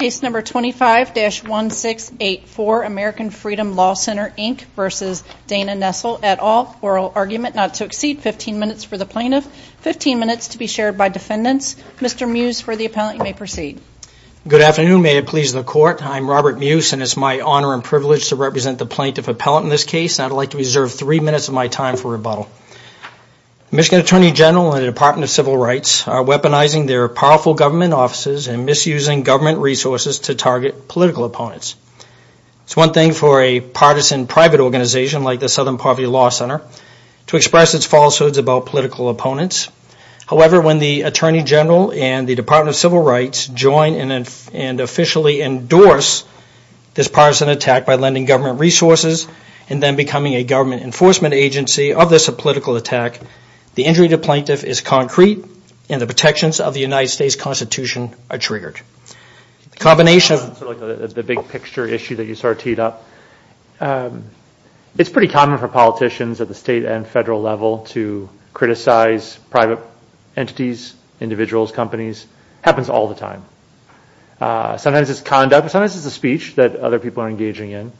25-1684 American Freedom Law Center, Inc. v. Dana Nessel, et al. Oral argument not to exceed 15 minutes for the plaintiff, 15 minutes to be shared by defendants. Mr. Mewes, for the appellant, you may proceed. Good afternoon. May it please the Court, I'm Robert Mewes and it's my honor and privilege to represent the plaintiff appellant in this case and I'd like to reserve three minutes of my time for rebuttal. Michigan Attorney General and the Department of Civil Rights are weaponizing their powerful government offices and misusing government resources to target political opponents. It's one thing for a partisan private organization like the Southern Poverty Law Center to express its falsehoods about political opponents. However, when the Attorney General and the Department of Civil Rights join and officially endorse this partisan attack by lending government resources and then becoming a government enforcement agency of this political attack, the injury to the plaintiff is concrete and the protections of the United States Constitution are triggered. The big picture issue that you sort of teed up, it's pretty common for politicians at the state and federal level to criticize private entities, individuals, companies, happens all the time. Sometimes it's conduct, sometimes it's a speech that other people are engaging in.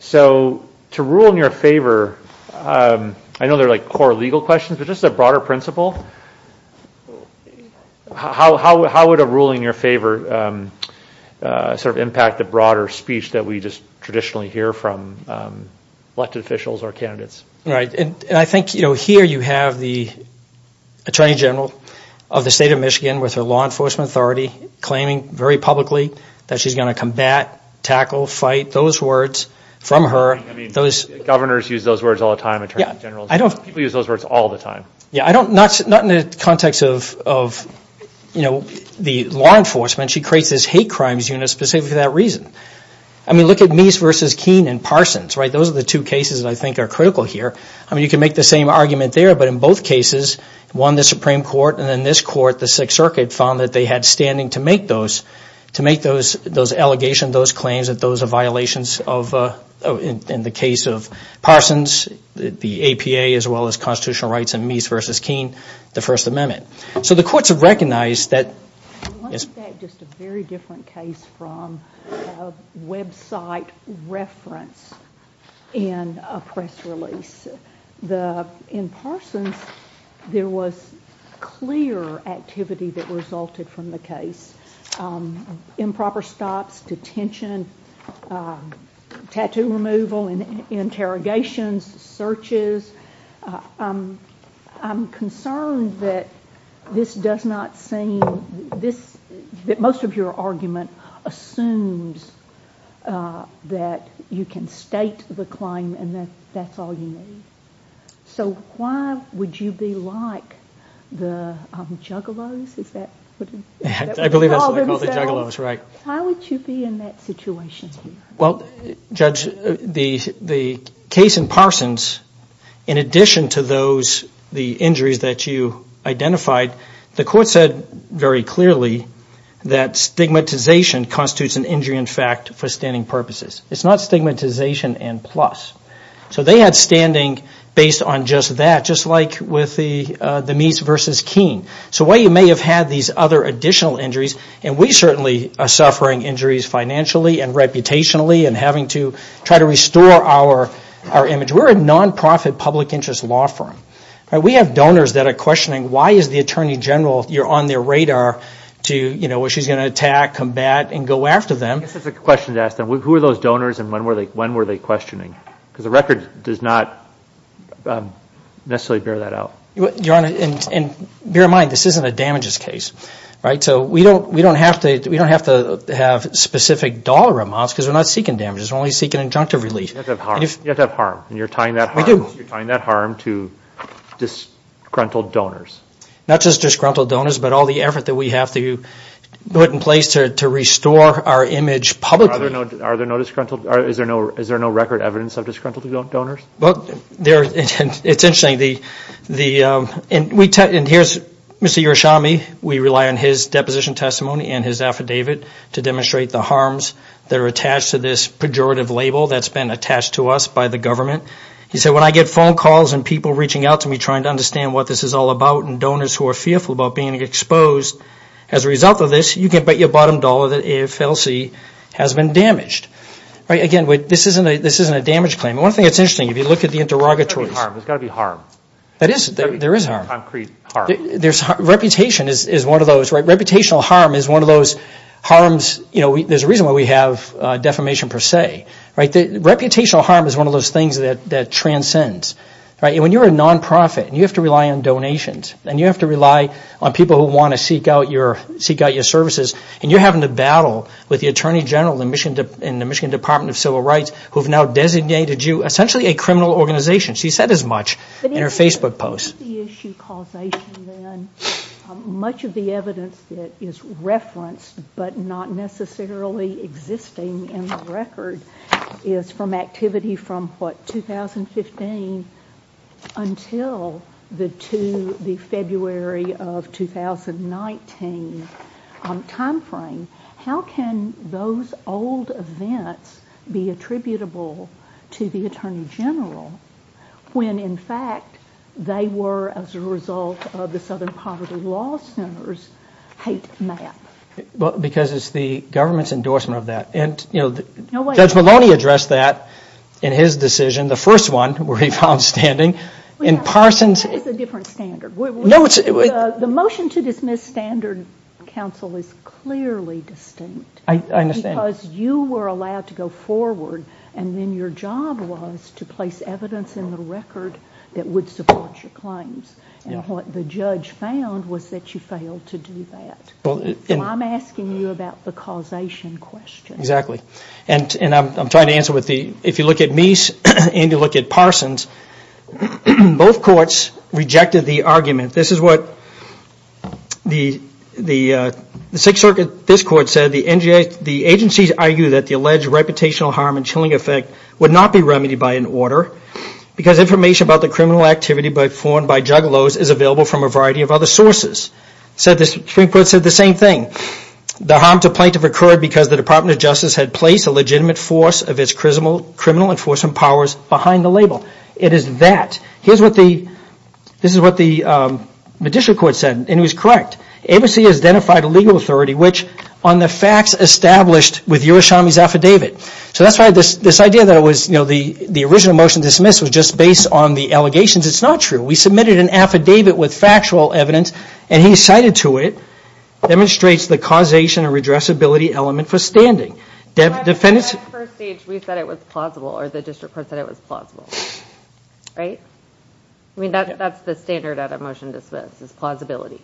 So to rule in your favor, I know there are like core legal questions, but just a core principle, how would a ruling in your favor sort of impact the broader speech that we just traditionally hear from elected officials or candidates? Right, and I think here you have the Attorney General of the state of Michigan with her law enforcement authority claiming very publicly that she's going to combat, tackle, fight those words from her. I mean, governors use those words all the time, Attorney Generals, people use those words all the time. Yeah, I don't, not in the context of, you know, the law enforcement, she creates this hate crimes unit specifically for that reason. I mean, look at Meese v. Keene and Parsons, right, those are the two cases that I think are critical here. I mean, you can make the same argument there, but in both cases, one the Supreme Court and then this court, the Sixth Circuit, found that they had standing to make those, to make those allegations, those claims that those are violations of, in the case of Parsons, the APA as well as the constitutional rights in Meese v. Keene, the First Amendment. So the courts have recognized that, yes? I want to take just a very different case from a website reference in a press release. The, in Parsons, there was clear activity that resulted from the case. Improper stops, detention, tattoo removal, interrogations, searches. I'm concerned that this does not seem, that most of your argument assumes that you can state the claim and that that's all you need. So why would you be like the juggalos, is that what they call themselves? I believe that's what they call the juggalos, right. How would you be in that situation? Well, Judge, the case in Parsons, in addition to those, the injuries that you identified, the court said very clearly that stigmatization constitutes an injury in fact for standing purposes. It's not stigmatization and plus. So they had standing based on just that, just like with the Meese v. Keene. So while you may have had these other additional injuries, and we certainly are suffering injuries financially and reputationally and having to try to restore our image. We're a non-profit public interest law firm. We have donors that are questioning why is the Attorney General, you're on their radar to, you know, she's going to attack, combat and go after them. This is a question to ask them. Who are those donors and when were they questioning? Because the record does not necessarily bear that out. Your Honor, and bear in mind, this isn't a damages case, right? So we don't have to have specific dollar amounts because we're not seeking damages. We're only seeking injunctive relief. You have to have harm. You're tying that harm to disgruntled donors. Not just disgruntled donors, but all the effort that we have to put in place to restore our image publicly. Is there no record evidence of disgruntled donors? Well, it's interesting. And here's Mr. Urshami. We rely on his deposition testimony and his affidavit to demonstrate the harms that are attached to this pejorative label that's been attached to us by the government. He said, when I get phone calls and people reaching out to me trying to understand what this is all about and donors who are fearful about being exposed as a result of this, you can bet your bottom dollar that AFLC has been damaged. Again, this isn't a damage claim. One thing that's interesting, if you look at the interrogatories... There's got to be harm. There is harm. Concrete harm. Reputation is one of those. Reputational harm is one of those harms. There's a reason why we have defamation per se. Reputational harm is one of those things that transcends. When you're a non-profit, you have to rely on donations. And you have to rely on people who want to seek out your services. And you're having to battle with the Attorney General and the Michigan Department of Civil Rights who have now designated you essentially a criminal organization. She said as much in her Facebook post. Much of the evidence that is referenced but not necessarily existing in the record is from activity from 2015 until the February of 2019 time frame. How can those old events be attributable to the Attorney General when in fact they were as a result of the Southern Poverty Law Center's hate map? Because it's the government's endorsement of that. Judge Maloney addressed that in his decision. The first one where he found standing in Parsons... That's a different standard. The motion to dismiss standard counsel is clearly distinct. Because you were allowed to go forward and then your job was to place evidence in the record that would support your claims. And what the judge found was that you failed to do that. I'm asking you about the causation question. And I'm trying to answer with the... If you look at Meese and you look at Parsons, both courts rejected the argument. This is what the Sixth Circuit, this court said, the agencies argue that the alleged reputational harm and chilling effect would not be remedied by an order because information about the criminal activity performed by juggalos is available from a variety of other sources. The Supreme Court said the same thing. The harm to plaintiff occurred because the Department of Justice had placed a legitimate force of its criminal enforcement powers behind the label. It is that. This is what the judicial court said, and it was correct. ABC has identified a legal authority which, on the facts established with Yerushalmi's affidavit. So that's why this idea that the original motion to dismiss was just based on the allegations, it's not true. We submitted an affidavit with factual evidence and he cited to it demonstrates the causation and redressability element for standing. At that first stage, we said it was plausible, or the district court said it was plausible. Right? I mean, that's the standard at a motion to dismiss, is plausibility.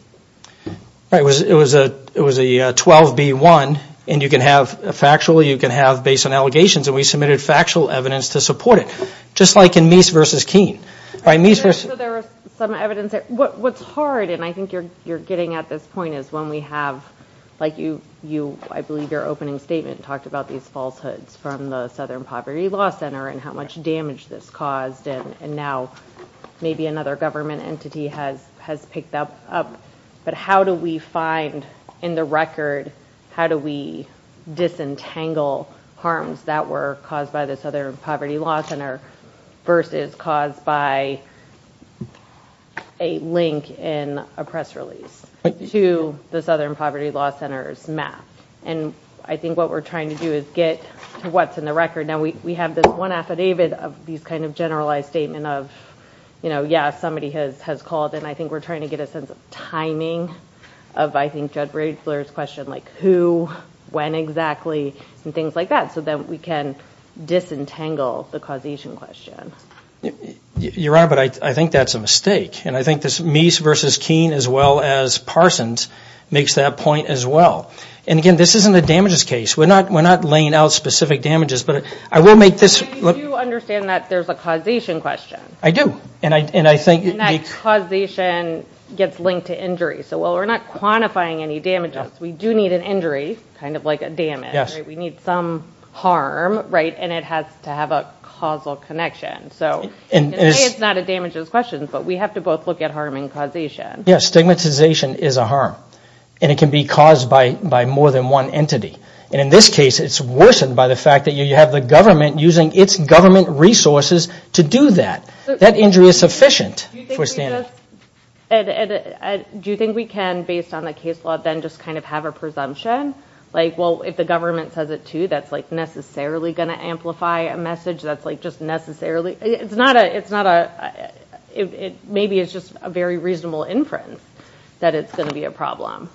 It was a 12-B-1, and you can have factual, you can have based on allegations, and we submitted factual evidence to support it. Just like in Meese v. Keene. So there was some evidence there. What's hard, and I think you're getting at this point, is when we have, like I believe your opening statement talked about these falsehoods from the Southern Poverty Law Center and how much damage this caused, and now maybe another government entity has picked that up. But how do we find in the record, how do we disentangle harms that were caused by the Southern Poverty Law Center versus caused by a link in a press release to the Southern Poverty Law Center's map? And I think what we're trying to do is get to what's in the record. Now, we have this one affidavit of these kind of generalized statement of, you know, yeah, somebody has called, and I think we're trying to get a sense of timing of, I think, Judd Braidfler's question, like who, when exactly, and things like that, so that we can disentangle the causation question. Your Honor, but I think that's a mistake. And I think this Meese versus Keene as well as Parsons makes that point as well. And again, this isn't a damages case. We're not laying out specific damages, but I will make this... But you do understand that there's a causation question. I do, and I think... And that causation gets linked to injury. So while we're not quantifying any damages, we do need an injury, kind of like a damage. We need some harm, right? And it has to have a causal connection. So it's not a damages question, but we have to both look at harm and causation. Yeah, stigmatization is a harm. And it can be caused by more than one entity. And in this case, it's worsened by the fact that you have the government using its government resources to do that. That injury is sufficient for a standard. Do you think we can, based on the case law, then just kind of have a presumption? Like, well, if the government says it too, that's, like, necessarily going to amplify a message. That's, like, just necessarily... It's not a... Maybe it's just a very reasonable inference that it's going to be a problem.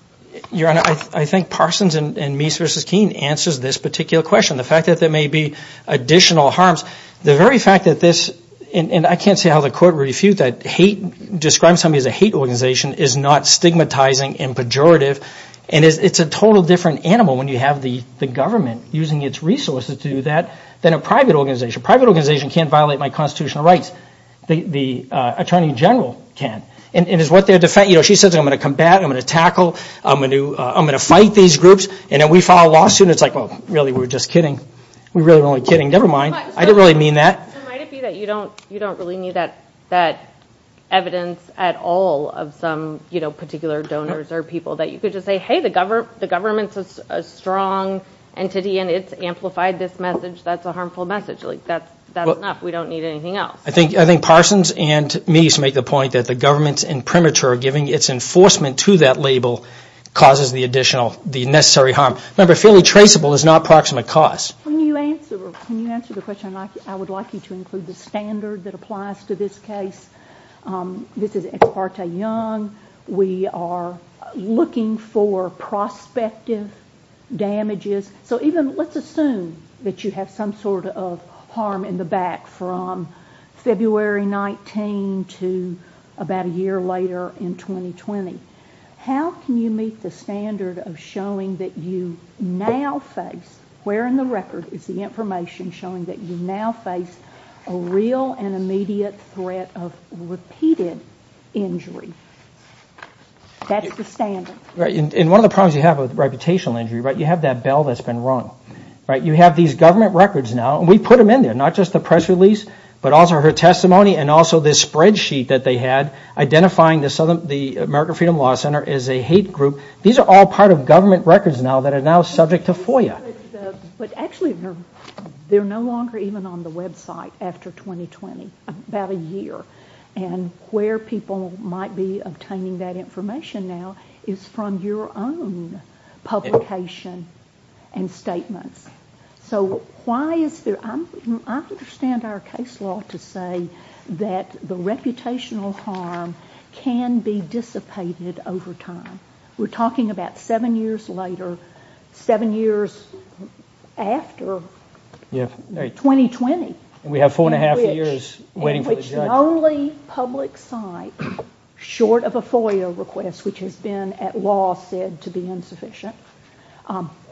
Your Honor, I think Parsons and Meese v. Keene answers this particular question, the fact that there may be additional harms. The very fact that this... And I can't see how the court refutes that. Hate...describing somebody as a hate organization is not stigmatizing and pejorative. And it's a total different animal when you have the government using its resources to do that than a private organization. A private organization can't violate my constitutional rights. The Attorney General can. And is what they're... She says, I'm going to combat, I'm going to tackle, I'm going to fight these groups. And then we file a lawsuit, and it's like, well, really, we were just kidding. We really were only kidding. Never mind. I didn't really mean that. So might it be that you don't really need that evidence at all of some, you know, particular donors or people that you could just say, hey, the government's a strong entity and it's amplified this message. That's a harmful message. That's enough. We don't need anything else. I think Parsons and Meese make the point that the government's imprimatur giving its enforcement to that label causes the additional...the necessary harm. Remember, fairly traceable is not proximate cause. When you answer... When you answer the question, I would like you to include the standard that applies to this case. This is Ex parte Young. We are looking for prospective damages. So even, let's assume that you have some sort of harm in the back from February 19 to about a year later in 2020. How can you meet the standard of showing that you now face, where in the record is the information showing that you now face a real and immediate threat of repeated injury? That's the standard. And one of the problems you have with reputational injury, you have that bell that's been rung. You have these government records now, and we put them in there, not just the press release, but also her testimony and also this spreadsheet that they had identifying the American Freedom Law Center as a hate group. These are all part of government records now that are now subject to FOIA. But actually, they're no longer even on the website after 2020, about a year, and where people might be obtaining that information now is from your own publication and statements. So why is there, I understand our case law to say that the reputational harm can be dissipated over time. We're talking about seven years later, seven years after 2020. In which the only public site, short of a FOIA request, which has been at law said to be insufficient,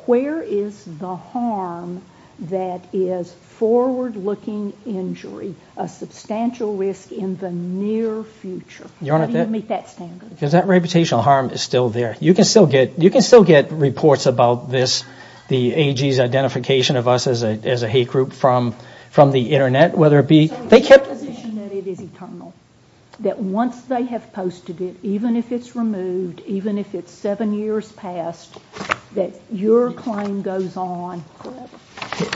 where is the harm that is forward-looking injury, a substantial risk in the near future? How do you meet that standard? Because that reputational harm is still there. You can still get reports about this, the AG's identification of us as a hate group from the internet, whether it be... ...that once they have posted it, even if it's removed, even if it's seven years past, that your claim goes on...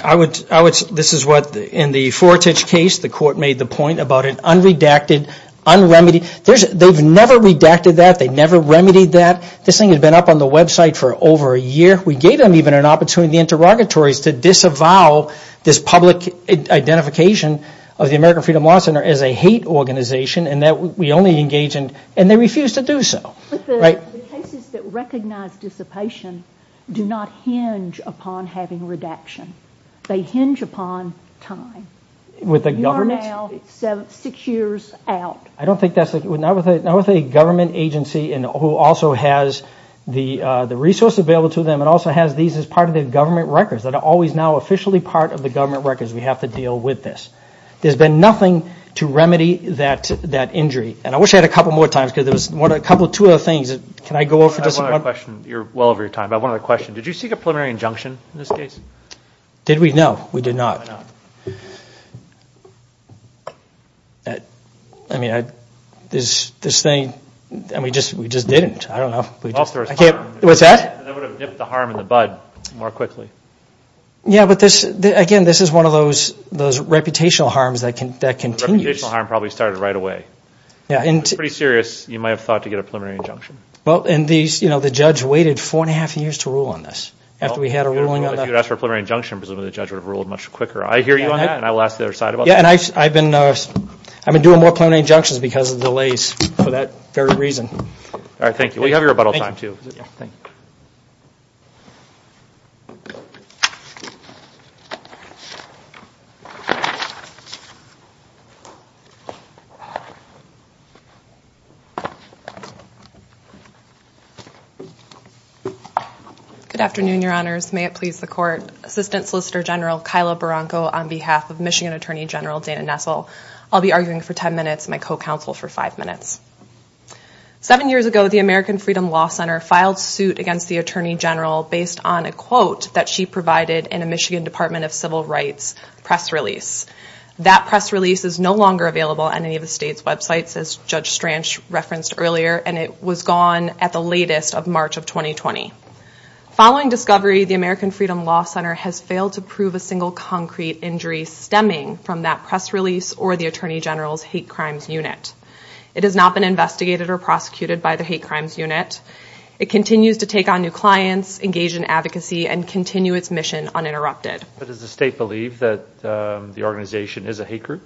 I would, this is what in the Fortich case, the court made the point about an unredacted, unremedied, they've never redacted that, they've never remedied that. This thing has been up on the website for over a year. We gave them even an opportunity, the interrogatories, to disavow this public identification of the American Freedom Law Center as a hate organization, and that we only engage in, and they refuse to do so. But the cases that recognize dissipation do not hinge upon having redaction. They hinge upon time. You are now six years out. I don't think that's, not with a government agency who also has the resources available to them, it also has these as part of the government records that are always now officially part of the government records, we have to deal with this. There's been nothing to remedy that injury. And I wish I had a couple more times, because there was a couple, two other things, can I go over just one? You're well over your time, but I have one other question. Did you seek a preliminary injunction in this case? Did we? No, we did not. I mean, this thing, we just didn't, I don't know. What's that? That would have nipped the harm in the bud more quickly. Yeah, but again, this is one of those reputational harms that continues. The reputational harm probably started right away. It's pretty serious, you might have thought to get a preliminary injunction. Well, and the judge waited four and a half years to rule on this, after we had a ruling on that. If you had asked for a preliminary injunction, presumably the judge would have ruled much quicker. I hear you on that, and I will ask the other side about that. Yeah, and I've been doing more preliminary injunctions because of delays, for that very reason. Alright, thank you. We have your rebuttal time, too. Good afternoon, Your Honors. May it please the Court. I am Assistant Solicitor General Kyla Barranco on behalf of Michigan Attorney General Dana Nessel. I'll be arguing for ten minutes and my co-counsel for five minutes. Seven years ago, the American Freedom Law Center filed suit against the Attorney General based on a quote that she provided in a Michigan Department of Civil Rights press release. That press release is no longer available on any of the state's websites, as Judge Stranch referenced earlier, and it was gone at the latest of March of 2020. Following discovery, the American Freedom Law Center has failed to prove a single concrete injury stemming from that press release or the Attorney General's Hate Crimes Unit. It has not been investigated or prosecuted by the Hate Crimes Unit. It continues to take on new clients, engage in advocacy, and continue its mission uninterrupted. But does the state believe that the organization is a hate group?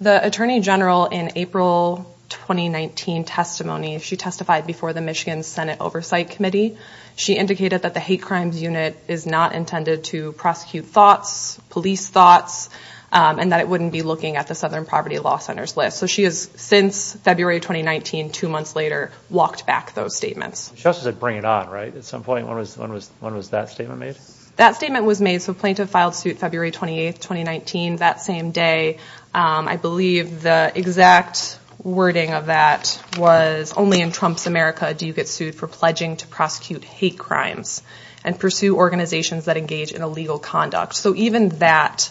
The Attorney General, in April 2019 testimony, she testified before the Michigan Senate Oversight Committee. She indicated that the Hate Crimes Unit is not intended to prosecute thoughts, police thoughts, and that it wouldn't be looking at the Southern Poverty Law Center's list. So she has, since February 2019, two months later, walked back those statements. She also said bring it on, right? At some point, when was that statement made? That statement was made so plaintiff filed suit February 28, 2019, that same day. I believe the exact wording of that was only in Trump's America do you get sued for pledging to prosecute hate crimes and pursue organizations that engage in illegal conduct. So even that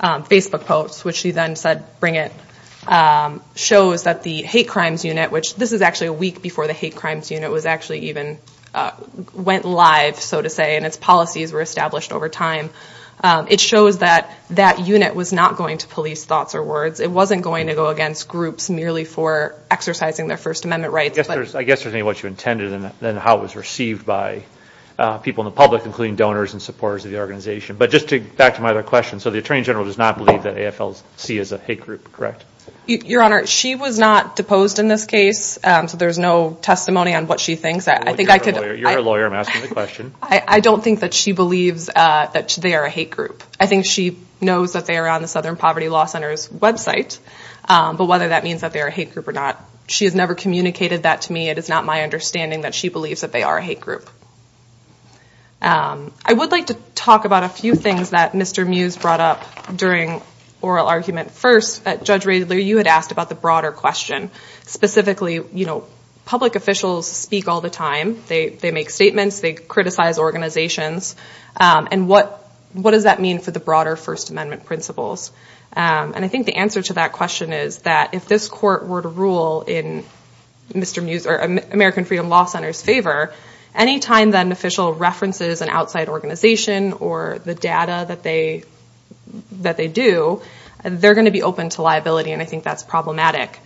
Facebook post, which she then said bring it, shows that the Hate Crimes Unit, which this is actually a week before the Hate Crimes Unit was actually even went live, so to say, and its policies were established over time. It shows that that unit was not going to police thoughts or words. It wasn't going to go against groups merely for exercising their First Amendment rights. I guess there's more to what you intended than how it was received by people in the public, including donors and supporters of the organization. But just to, back to my other question, so the Attorney General does not believe that AFLC is a hate group, correct? Your Honor, she was not deposed in this case, so there's no testimony on what she thinks. I think I could... You're her lawyer, I'm asking the question. I don't think that she believes that they are a hate group. I think she knows that they are on the Southern Poverty Law Center's website, but whether that means that they are a hate group or not, she has never communicated that to me. It is not my understanding that she believes that they are a hate group. I would like to talk about a few things that Mr. Mews brought up during oral argument. First, Judge Radler, you had asked about the broader question. Specifically, you know, public officials speak all the time. They make statements, they criticize organizations, and what does that mean for the broader First Amendment principles? And I think the answer to that question is that if this court were to rule in Mr. Mews' or American Freedom Law Center's favor, any time that an official references an outside organization or the data that they do, they're going to be open to liability, and I think that's problematic.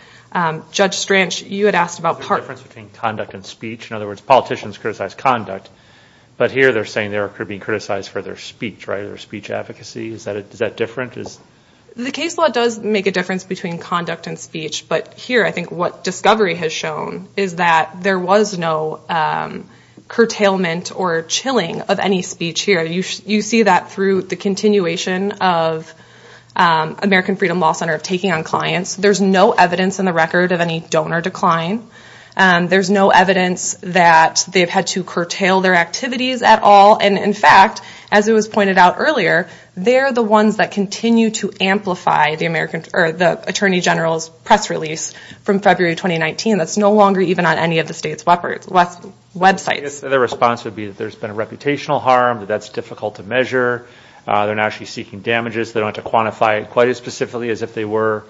Judge Stranch, you had asked about... Is there a difference between conduct and speech? In other words, politicians criticize conduct, but here they're saying they're being criticized for their speech, right? Their speech advocacy. Is that different? The case law does make a difference between conduct and speech, but here I think what discovery has shown is that there was no curtailment or chilling of any speech here. You see that through the continuation of American Freedom Law Center taking on clients. There's no evidence in the record of any donor decline. There's no evidence that they've had to curtail their activities at all, and in fact, as it was pointed out earlier, they're the ones that continue to amplify the Attorney General's press release from February 2019 that's no longer even on any of the state's websites. I guess their response would be that there's been a reputational harm, that that's difficult to measure, they're not actually seeking damages, they don't have to quantify it quite as specifically as if they were.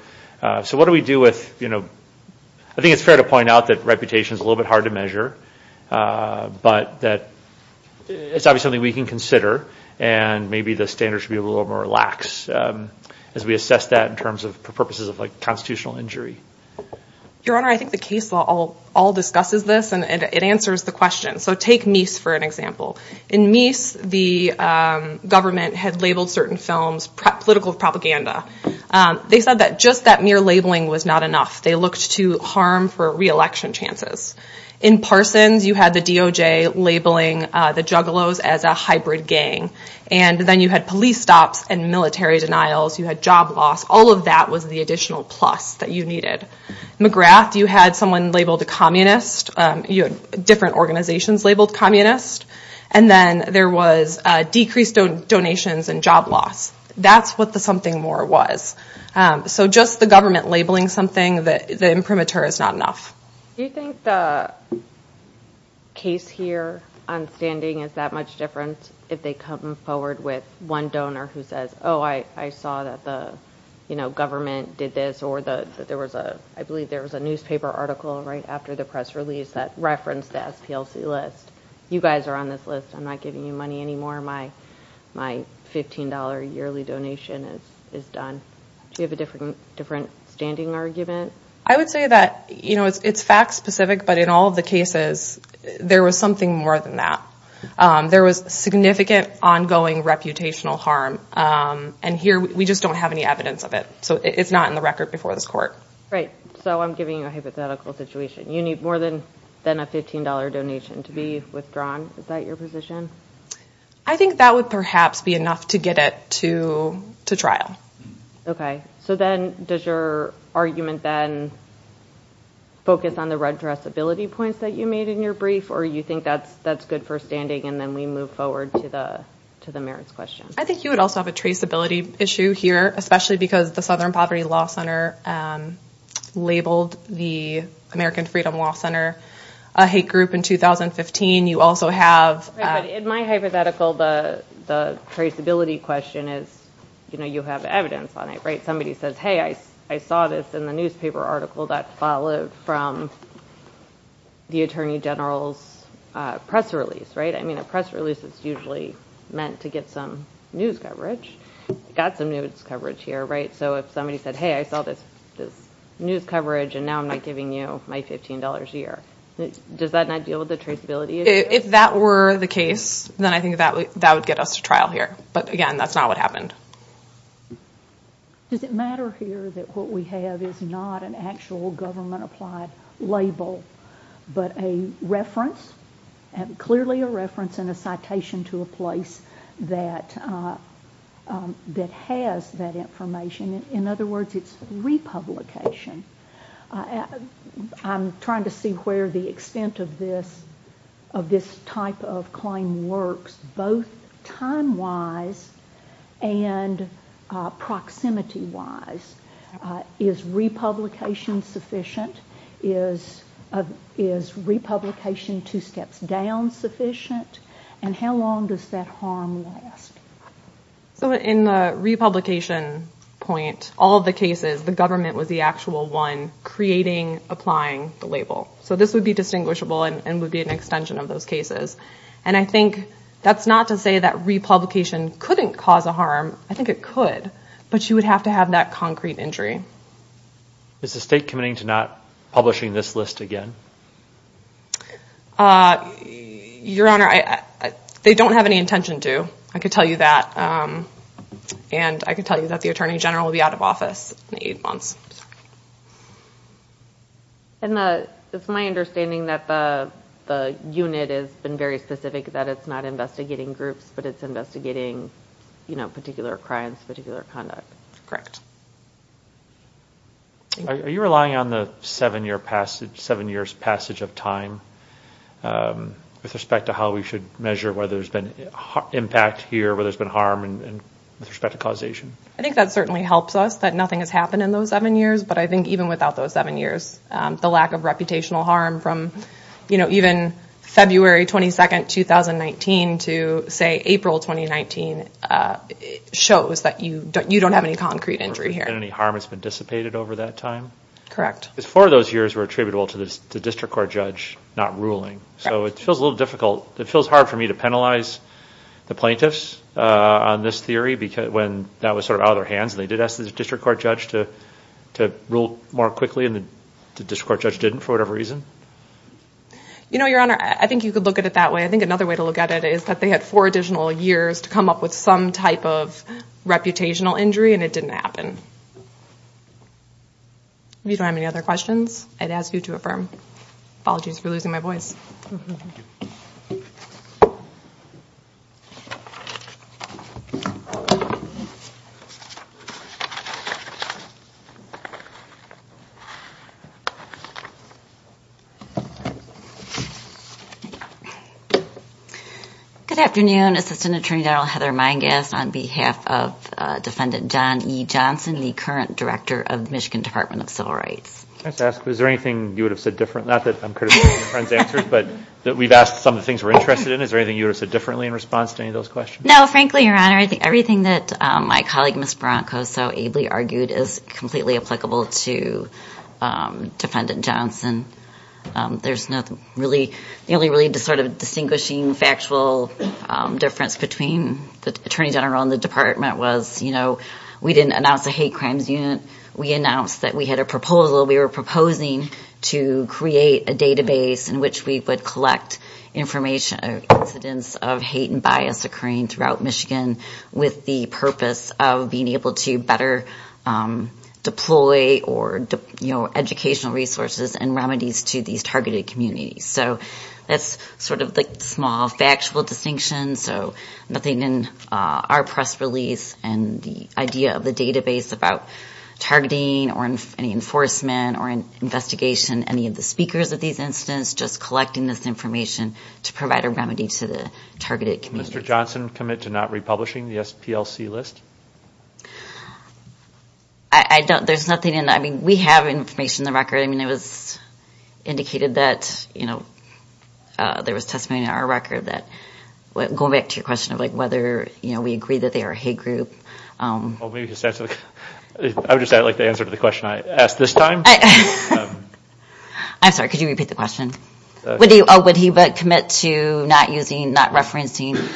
So what do we do with... I think it's fair to point out that reputation is a little bit hard to measure, but it's obviously something we can consider, and maybe the standards should be a little more lax as we assess that in terms of purposes of constitutional injury. Your Honor, I think the case law all discusses this, and it answers the question. So take Meese for an example. In Meese, the government had labeled certain films political propaganda. They said that just that mere labeling was not enough. They looked to harm for re-election chances. In BoJ, labeling the Juggalos as a hybrid gang. And then you had police stops and military denials, you had job loss, all of that was the additional plus that you needed. McGrath, you had someone labeled a communist, different organizations labeled communist, and then there was decreased donations and job loss. That's what the something more was. So just the government labeling something, the imprimatur is not enough. Do you think the case here on standing is that much different if they come forward with one donor who says, oh, I saw that the government did this, or that there was a newspaper article right after the press release that referenced the SPLC list. You guys are on this list. I'm not giving you money anymore. My $15 yearly donation is done. Do you have a different standing argument? I would say that it's fact specific, but in all of the cases, there was something more than that. There was significant, ongoing, reputational harm. And here, we just don't have any evidence of it. So it's not in the record before this court. Right. So I'm giving you a hypothetical situation. You need more than a $15 donation to be withdrawn. Is that your position? I think that would perhaps be enough to get it to trial. Okay. So then, does your argument then focus on the redressability points that you made in your brief, or you think that's good for standing, and then we move forward to the merits question? I think you would also have a traceability issue here, especially because the Southern Poverty Law Center labeled the American Freedom Law Center a hate group in 2015. You also have... In my hypothetical, the traceability question is you have evidence on it. Somebody says, hey, I saw this in the newspaper article that followed from the Attorney General's press release. I mean, a press release is usually meant to get some news coverage. Got some news coverage here. So if somebody said, hey, I saw this news coverage, and now I'm not giving you my $15 a year. Does that not deal with the traceability issue? If that were the case, then I think that would get us to trial here. But again, that's not what happened. Does it matter here that what we have is not an actual government-applied label, but a reference, clearly a reference and a citation to a place that has that information? In other words, it's republication. I'm trying to see where the extent of this type of claim works, both time-wise and proximity-wise. Is republication sufficient? Is republication two steps down sufficient? And how long does that harm last? In the republication point, all of the cases, the government was the actual one creating, applying the label. So this would be distinguishable and would be an extension of those cases. And I think that's not to say that republication couldn't cause a harm. I think it could. But you would have to have that concrete injury. Is the state committing to not publishing this list again? Your Honor, they don't have any intention to. I can tell you that. And I can tell you that the Attorney General will be out of office in eight months. It's my understanding that the unit has been very specific that it's not investigating groups, but it's investigating particular crimes, particular conduct. Correct. Are you relying on the seven-year passage of time with respect to how we should measure whether there's been impact here, whether there's been harm with respect to causation? I think that certainly helps us that nothing has happened in those seven years. But I think even without those seven years, the lack of reputational harm from, you know, even February 22, 2019 to, say, April 2019 shows that you don't have any concrete injury here. There hasn't been any harm that's been dissipated over that time? Correct. Because four of those years were attributable to the District Court judge not ruling. So it feels a little difficult. It feels hard for me to penalize the plaintiffs on this theory when that was sort of out of their hands and they did ask the District Court judge to rule more quickly and the District Court judge didn't for whatever reason. You know, Your Honor, I think you could look at it that way. I think another way to look at it is that they had four additional years to come up with some type of reputational injury and it didn't happen. If you don't have any other questions, I'd ask you to affirm. Apologies for losing my voice. Good afternoon. Assistant Attorney General Heather Meingast on behalf of Defendant John E. Johnson, the current Director of the Michigan Department of Civil Rights. Can I just ask, is there anything you would have said different? Not that I'm criticizing your friend's answers, but we've asked some of the things we're interested in. Is there anything you would have said differently in response to any of those questions? No, frankly, Your Honor. I think everything that my colleague, Ms. Barranco, so ably argued is completely applicable to Defendant Johnson. The only really sort of distinguishing factual difference between the Attorney General and the Department was we didn't announce a hate crimes unit. We announced that we had a proposal. We were proposing to create a database in which we would collect information of incidents of hate and bias occurring throughout Michigan with the purpose of being able to better deploy educational resources and remedies to these targeted communities. So that's sort of the small factual distinction. So nothing in our press release and the idea of the database about targeting or any enforcement or investigation, any of the speakers of these incidents, just collecting this information to provide a remedy to the targeted communities. Mr. Johnson, commit to not republishing the SPLC list? I don't. There's nothing in it. We have information in the record. It was indicated that there was testimony in our record that, going back to your question of whether we agree that they are a hate group. I would just add the answer to the question I asked this time. I'm sorry. Could you repeat the question? Would he commit to not using, not referencing?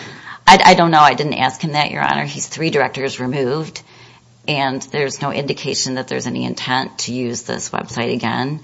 I don't know. I didn't ask him that, Your Honor. He's three directors removed, and there's no indication that there's any intent to use this website again.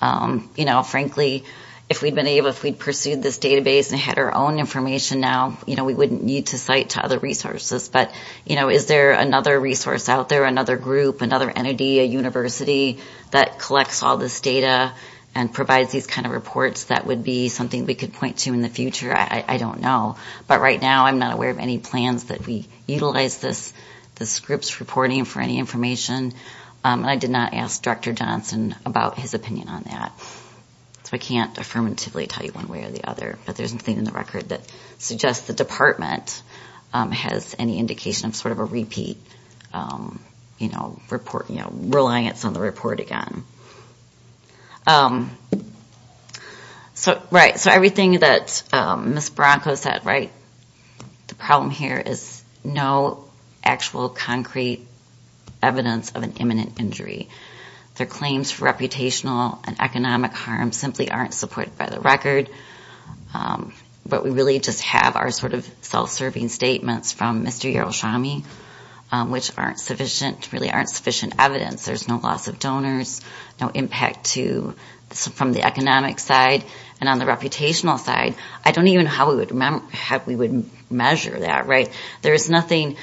Frankly, if we'd pursued this database and had our own information now, we wouldn't need to cite to other resources. But is there another resource out there, another group, another entity, a university that collects all this data and provides these kind of reports that would be something we could point to in the future? I don't know. But right now, I'm not aware of any plans that we utilize this group's reporting for any information. And I did not ask Director Johnson about his opinion on that. So I can't affirmatively tell you one way or the other. But there's nothing in the record that suggests the Department has any indication of sort of a repeat reliance on the report again. Right. So everything that Ms. Branco said, right, the problem here is no actual concrete evidence of an imminent injury. Their claims for reputational and economic harm simply aren't supported by the record. But we really just have our self-serving statements from Mr. Yaroshami, which really aren't sufficient evidence. There's no loss of donors, no impact from the economic side. And on the we would measure that, right? There's nothing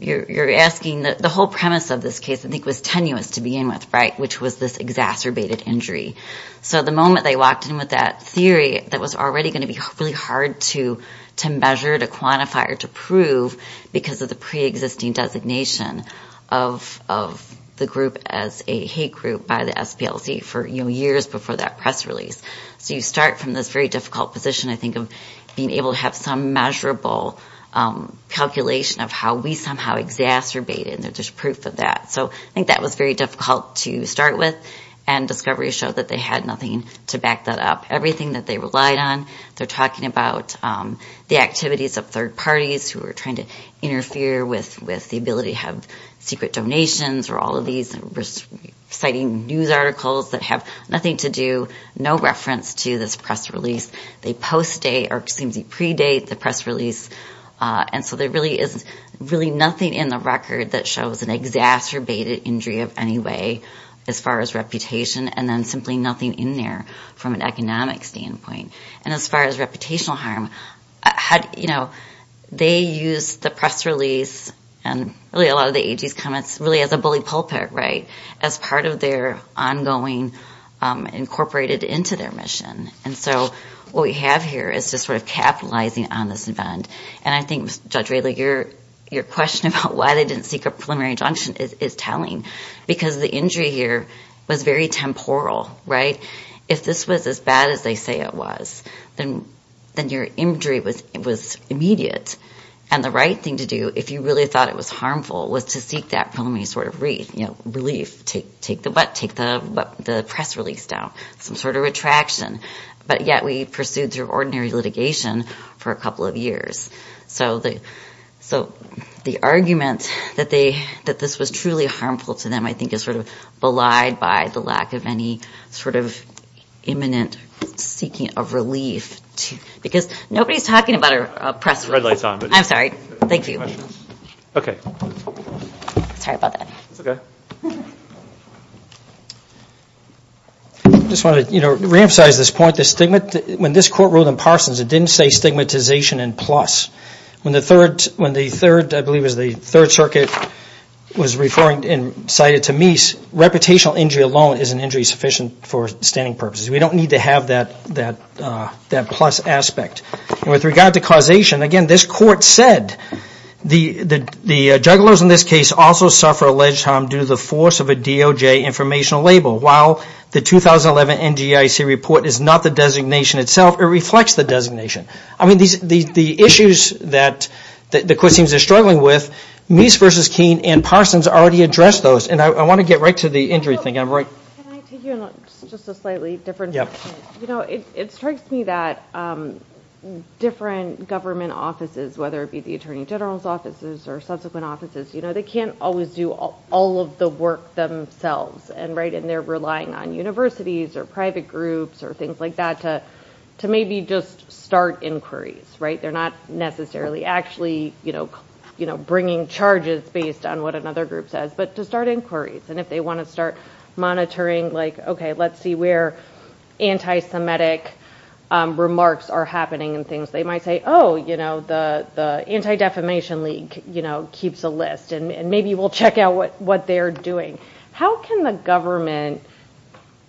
you're asking. The whole premise of this case I think was tenuous to begin with, right, which was this exacerbated injury. So the moment they walked in with that theory that was already going to be really hard to measure, to quantify, or to prove because of the pre-existing designation of the group as a hate group by the SPLC for years before that press release. So you start from this very difficult position, I think, of being able to have some measurable calculation of how we somehow exacerbated, and there's proof of that. So I think that was very difficult to start with, and discoveries show that they had nothing to back that up. Everything that they relied on, they're talking about the activities of third parties who were trying to interfere with the ability to have secret donations or all of these exciting news articles that have nothing to do, no reference to this press release. They post-date, or excuse me, predate the press release, and so there really is nothing in the record that shows an exacerbated injury of any way as far as reputation, and then simply nothing in there from an economic standpoint. And as far as reputational harm, they used the press release, and really a lot of the AG's comments, really as a bully pulpit, as part of their ongoing, incorporated into their mission. And so what we have here is just sort of capitalizing on this event, and I think, Judge Wadley, your question about why they didn't seek a preliminary injunction is telling, because the injury here was very temporal. If this was as bad as they say it was, then your injury was immediate, and the right thing to do, if you really thought it was harmful, was to seek that preliminary sort of relief, take the press release down, some sort of retraction. But yet we pursued through ordinary litigation for a couple of years. So the argument that this was truly harmful to them, I think, is sort of belied by the lack of any sort of imminent seeking of relief. Because nobody's talking about a press release. I'm sorry. Thank you. Okay. Sorry about that. It's okay. I just want to reemphasize this point. When this Court ruled in Parsons, it didn't say stigmatization and plus. When the Third, I believe it was the Third Circuit, was referring and cited to Meese, reputational injury alone is an injury sufficient for standing purposes. We don't need to have that plus aspect. And with regard to causation, again, this Court said the jugglers in this case also suffer alleged harm due to the force of a DOJ informational label. While the 2011 NGIC report is not the designation itself, it reflects the designation. The issues that the Cousins are struggling with, Meese v. Keene and Parsons already addressed those. And I want to get right to the injury thing. Can I take you on just a slightly different subject? It strikes me that different government offices, whether it be the Attorney General's offices or subsequent offices, they can't always do all of the work themselves. They're relying on universities or private groups or things like that to maybe just start inquiries. They're not necessarily actually bringing charges based on what another group says, but to start inquiries. And if they want to start monitoring, let's see where anti-Semitic remarks are happening and things. They might say, oh, the Anti-Defamation League keeps a list, and maybe we'll check out what they're doing. How can the government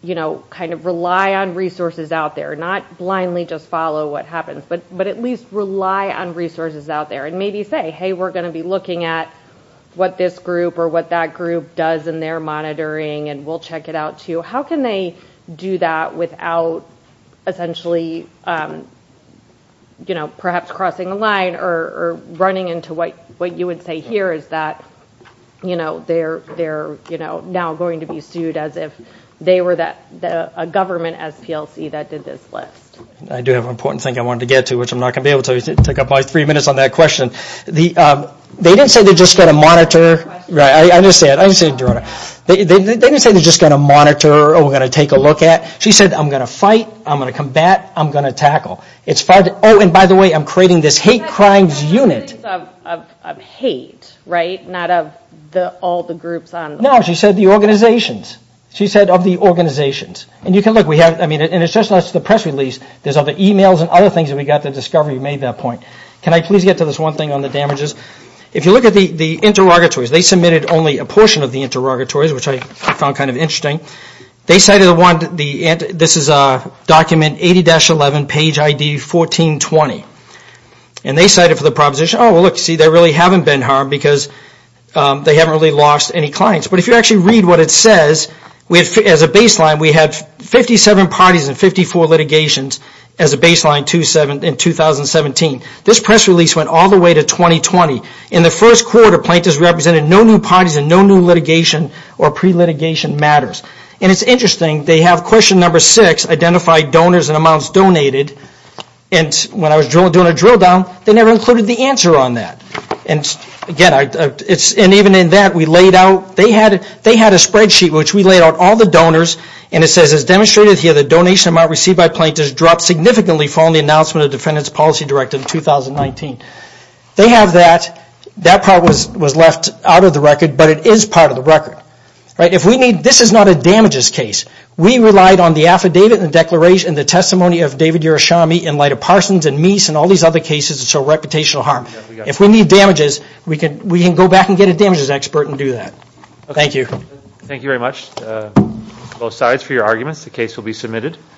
rely on resources out there, not blindly just follow what happens, but at least rely on resources out there, and maybe say, hey, we're going to be looking at what this group or what that group does in their monitoring, and we'll check it out too. How can they do that without essentially perhaps crossing a line or running into what you would say here is that they're now going to be sued as if they were a government SPLC that did this list. I do have an important thing I wanted to get to, which I'm not going to be able to, so I'll take up my three minutes on that question. They didn't say they're just going to monitor... I understand. They didn't say they're just going to monitor or we're going to take a look at. She said, I'm going to fight, I'm going to combat, I'm going to tackle. Oh, and by the way, I'm creating this hate crimes unit. Of hate, right? Not of all the groups on the list. No, she said the organizations. She said of the organizations. It's just like the press release. There's all the emails and other things that we got to discover. You made that point. Can I please get to this one thing on the damages? If you look at the interrogatories, they submitted only a portion of the interrogatories, which I found kind of interesting. This is a document, 80-11, page ID 1420. And they cited for the proposition, oh, look, see, there really haven't been harm because they haven't really lost any clients. But if you actually read what it says, as a baseline, we had 57 parties and 54 litigations as a baseline in 2017. This press release went all the way to 2020. In the first quarter, plaintiffs represented no new parties and no new litigation or pre-litigation matters. And it's interesting, they have question number six, identify donors and amounts donated. And when I was doing a drill down, they never included the answer on that. And again, even in that, we laid out, they had a spreadsheet which we laid out all the donors and it says, as demonstrated here, the donation amount received by plaintiffs dropped significantly following the announcement of the defendant's policy directive in 2019. They have that. That part was left out of the record, but it is part of the record. This is not a damages case. We relied on the affidavit and the declaration and the testimony of David Urashami in light of Parsons and Meese and all these other cases that show reputational harm. If we need damages, we can go back and get a damages expert and do that. Thank you. Thank you very much both sides for your arguments. The case will be submitted.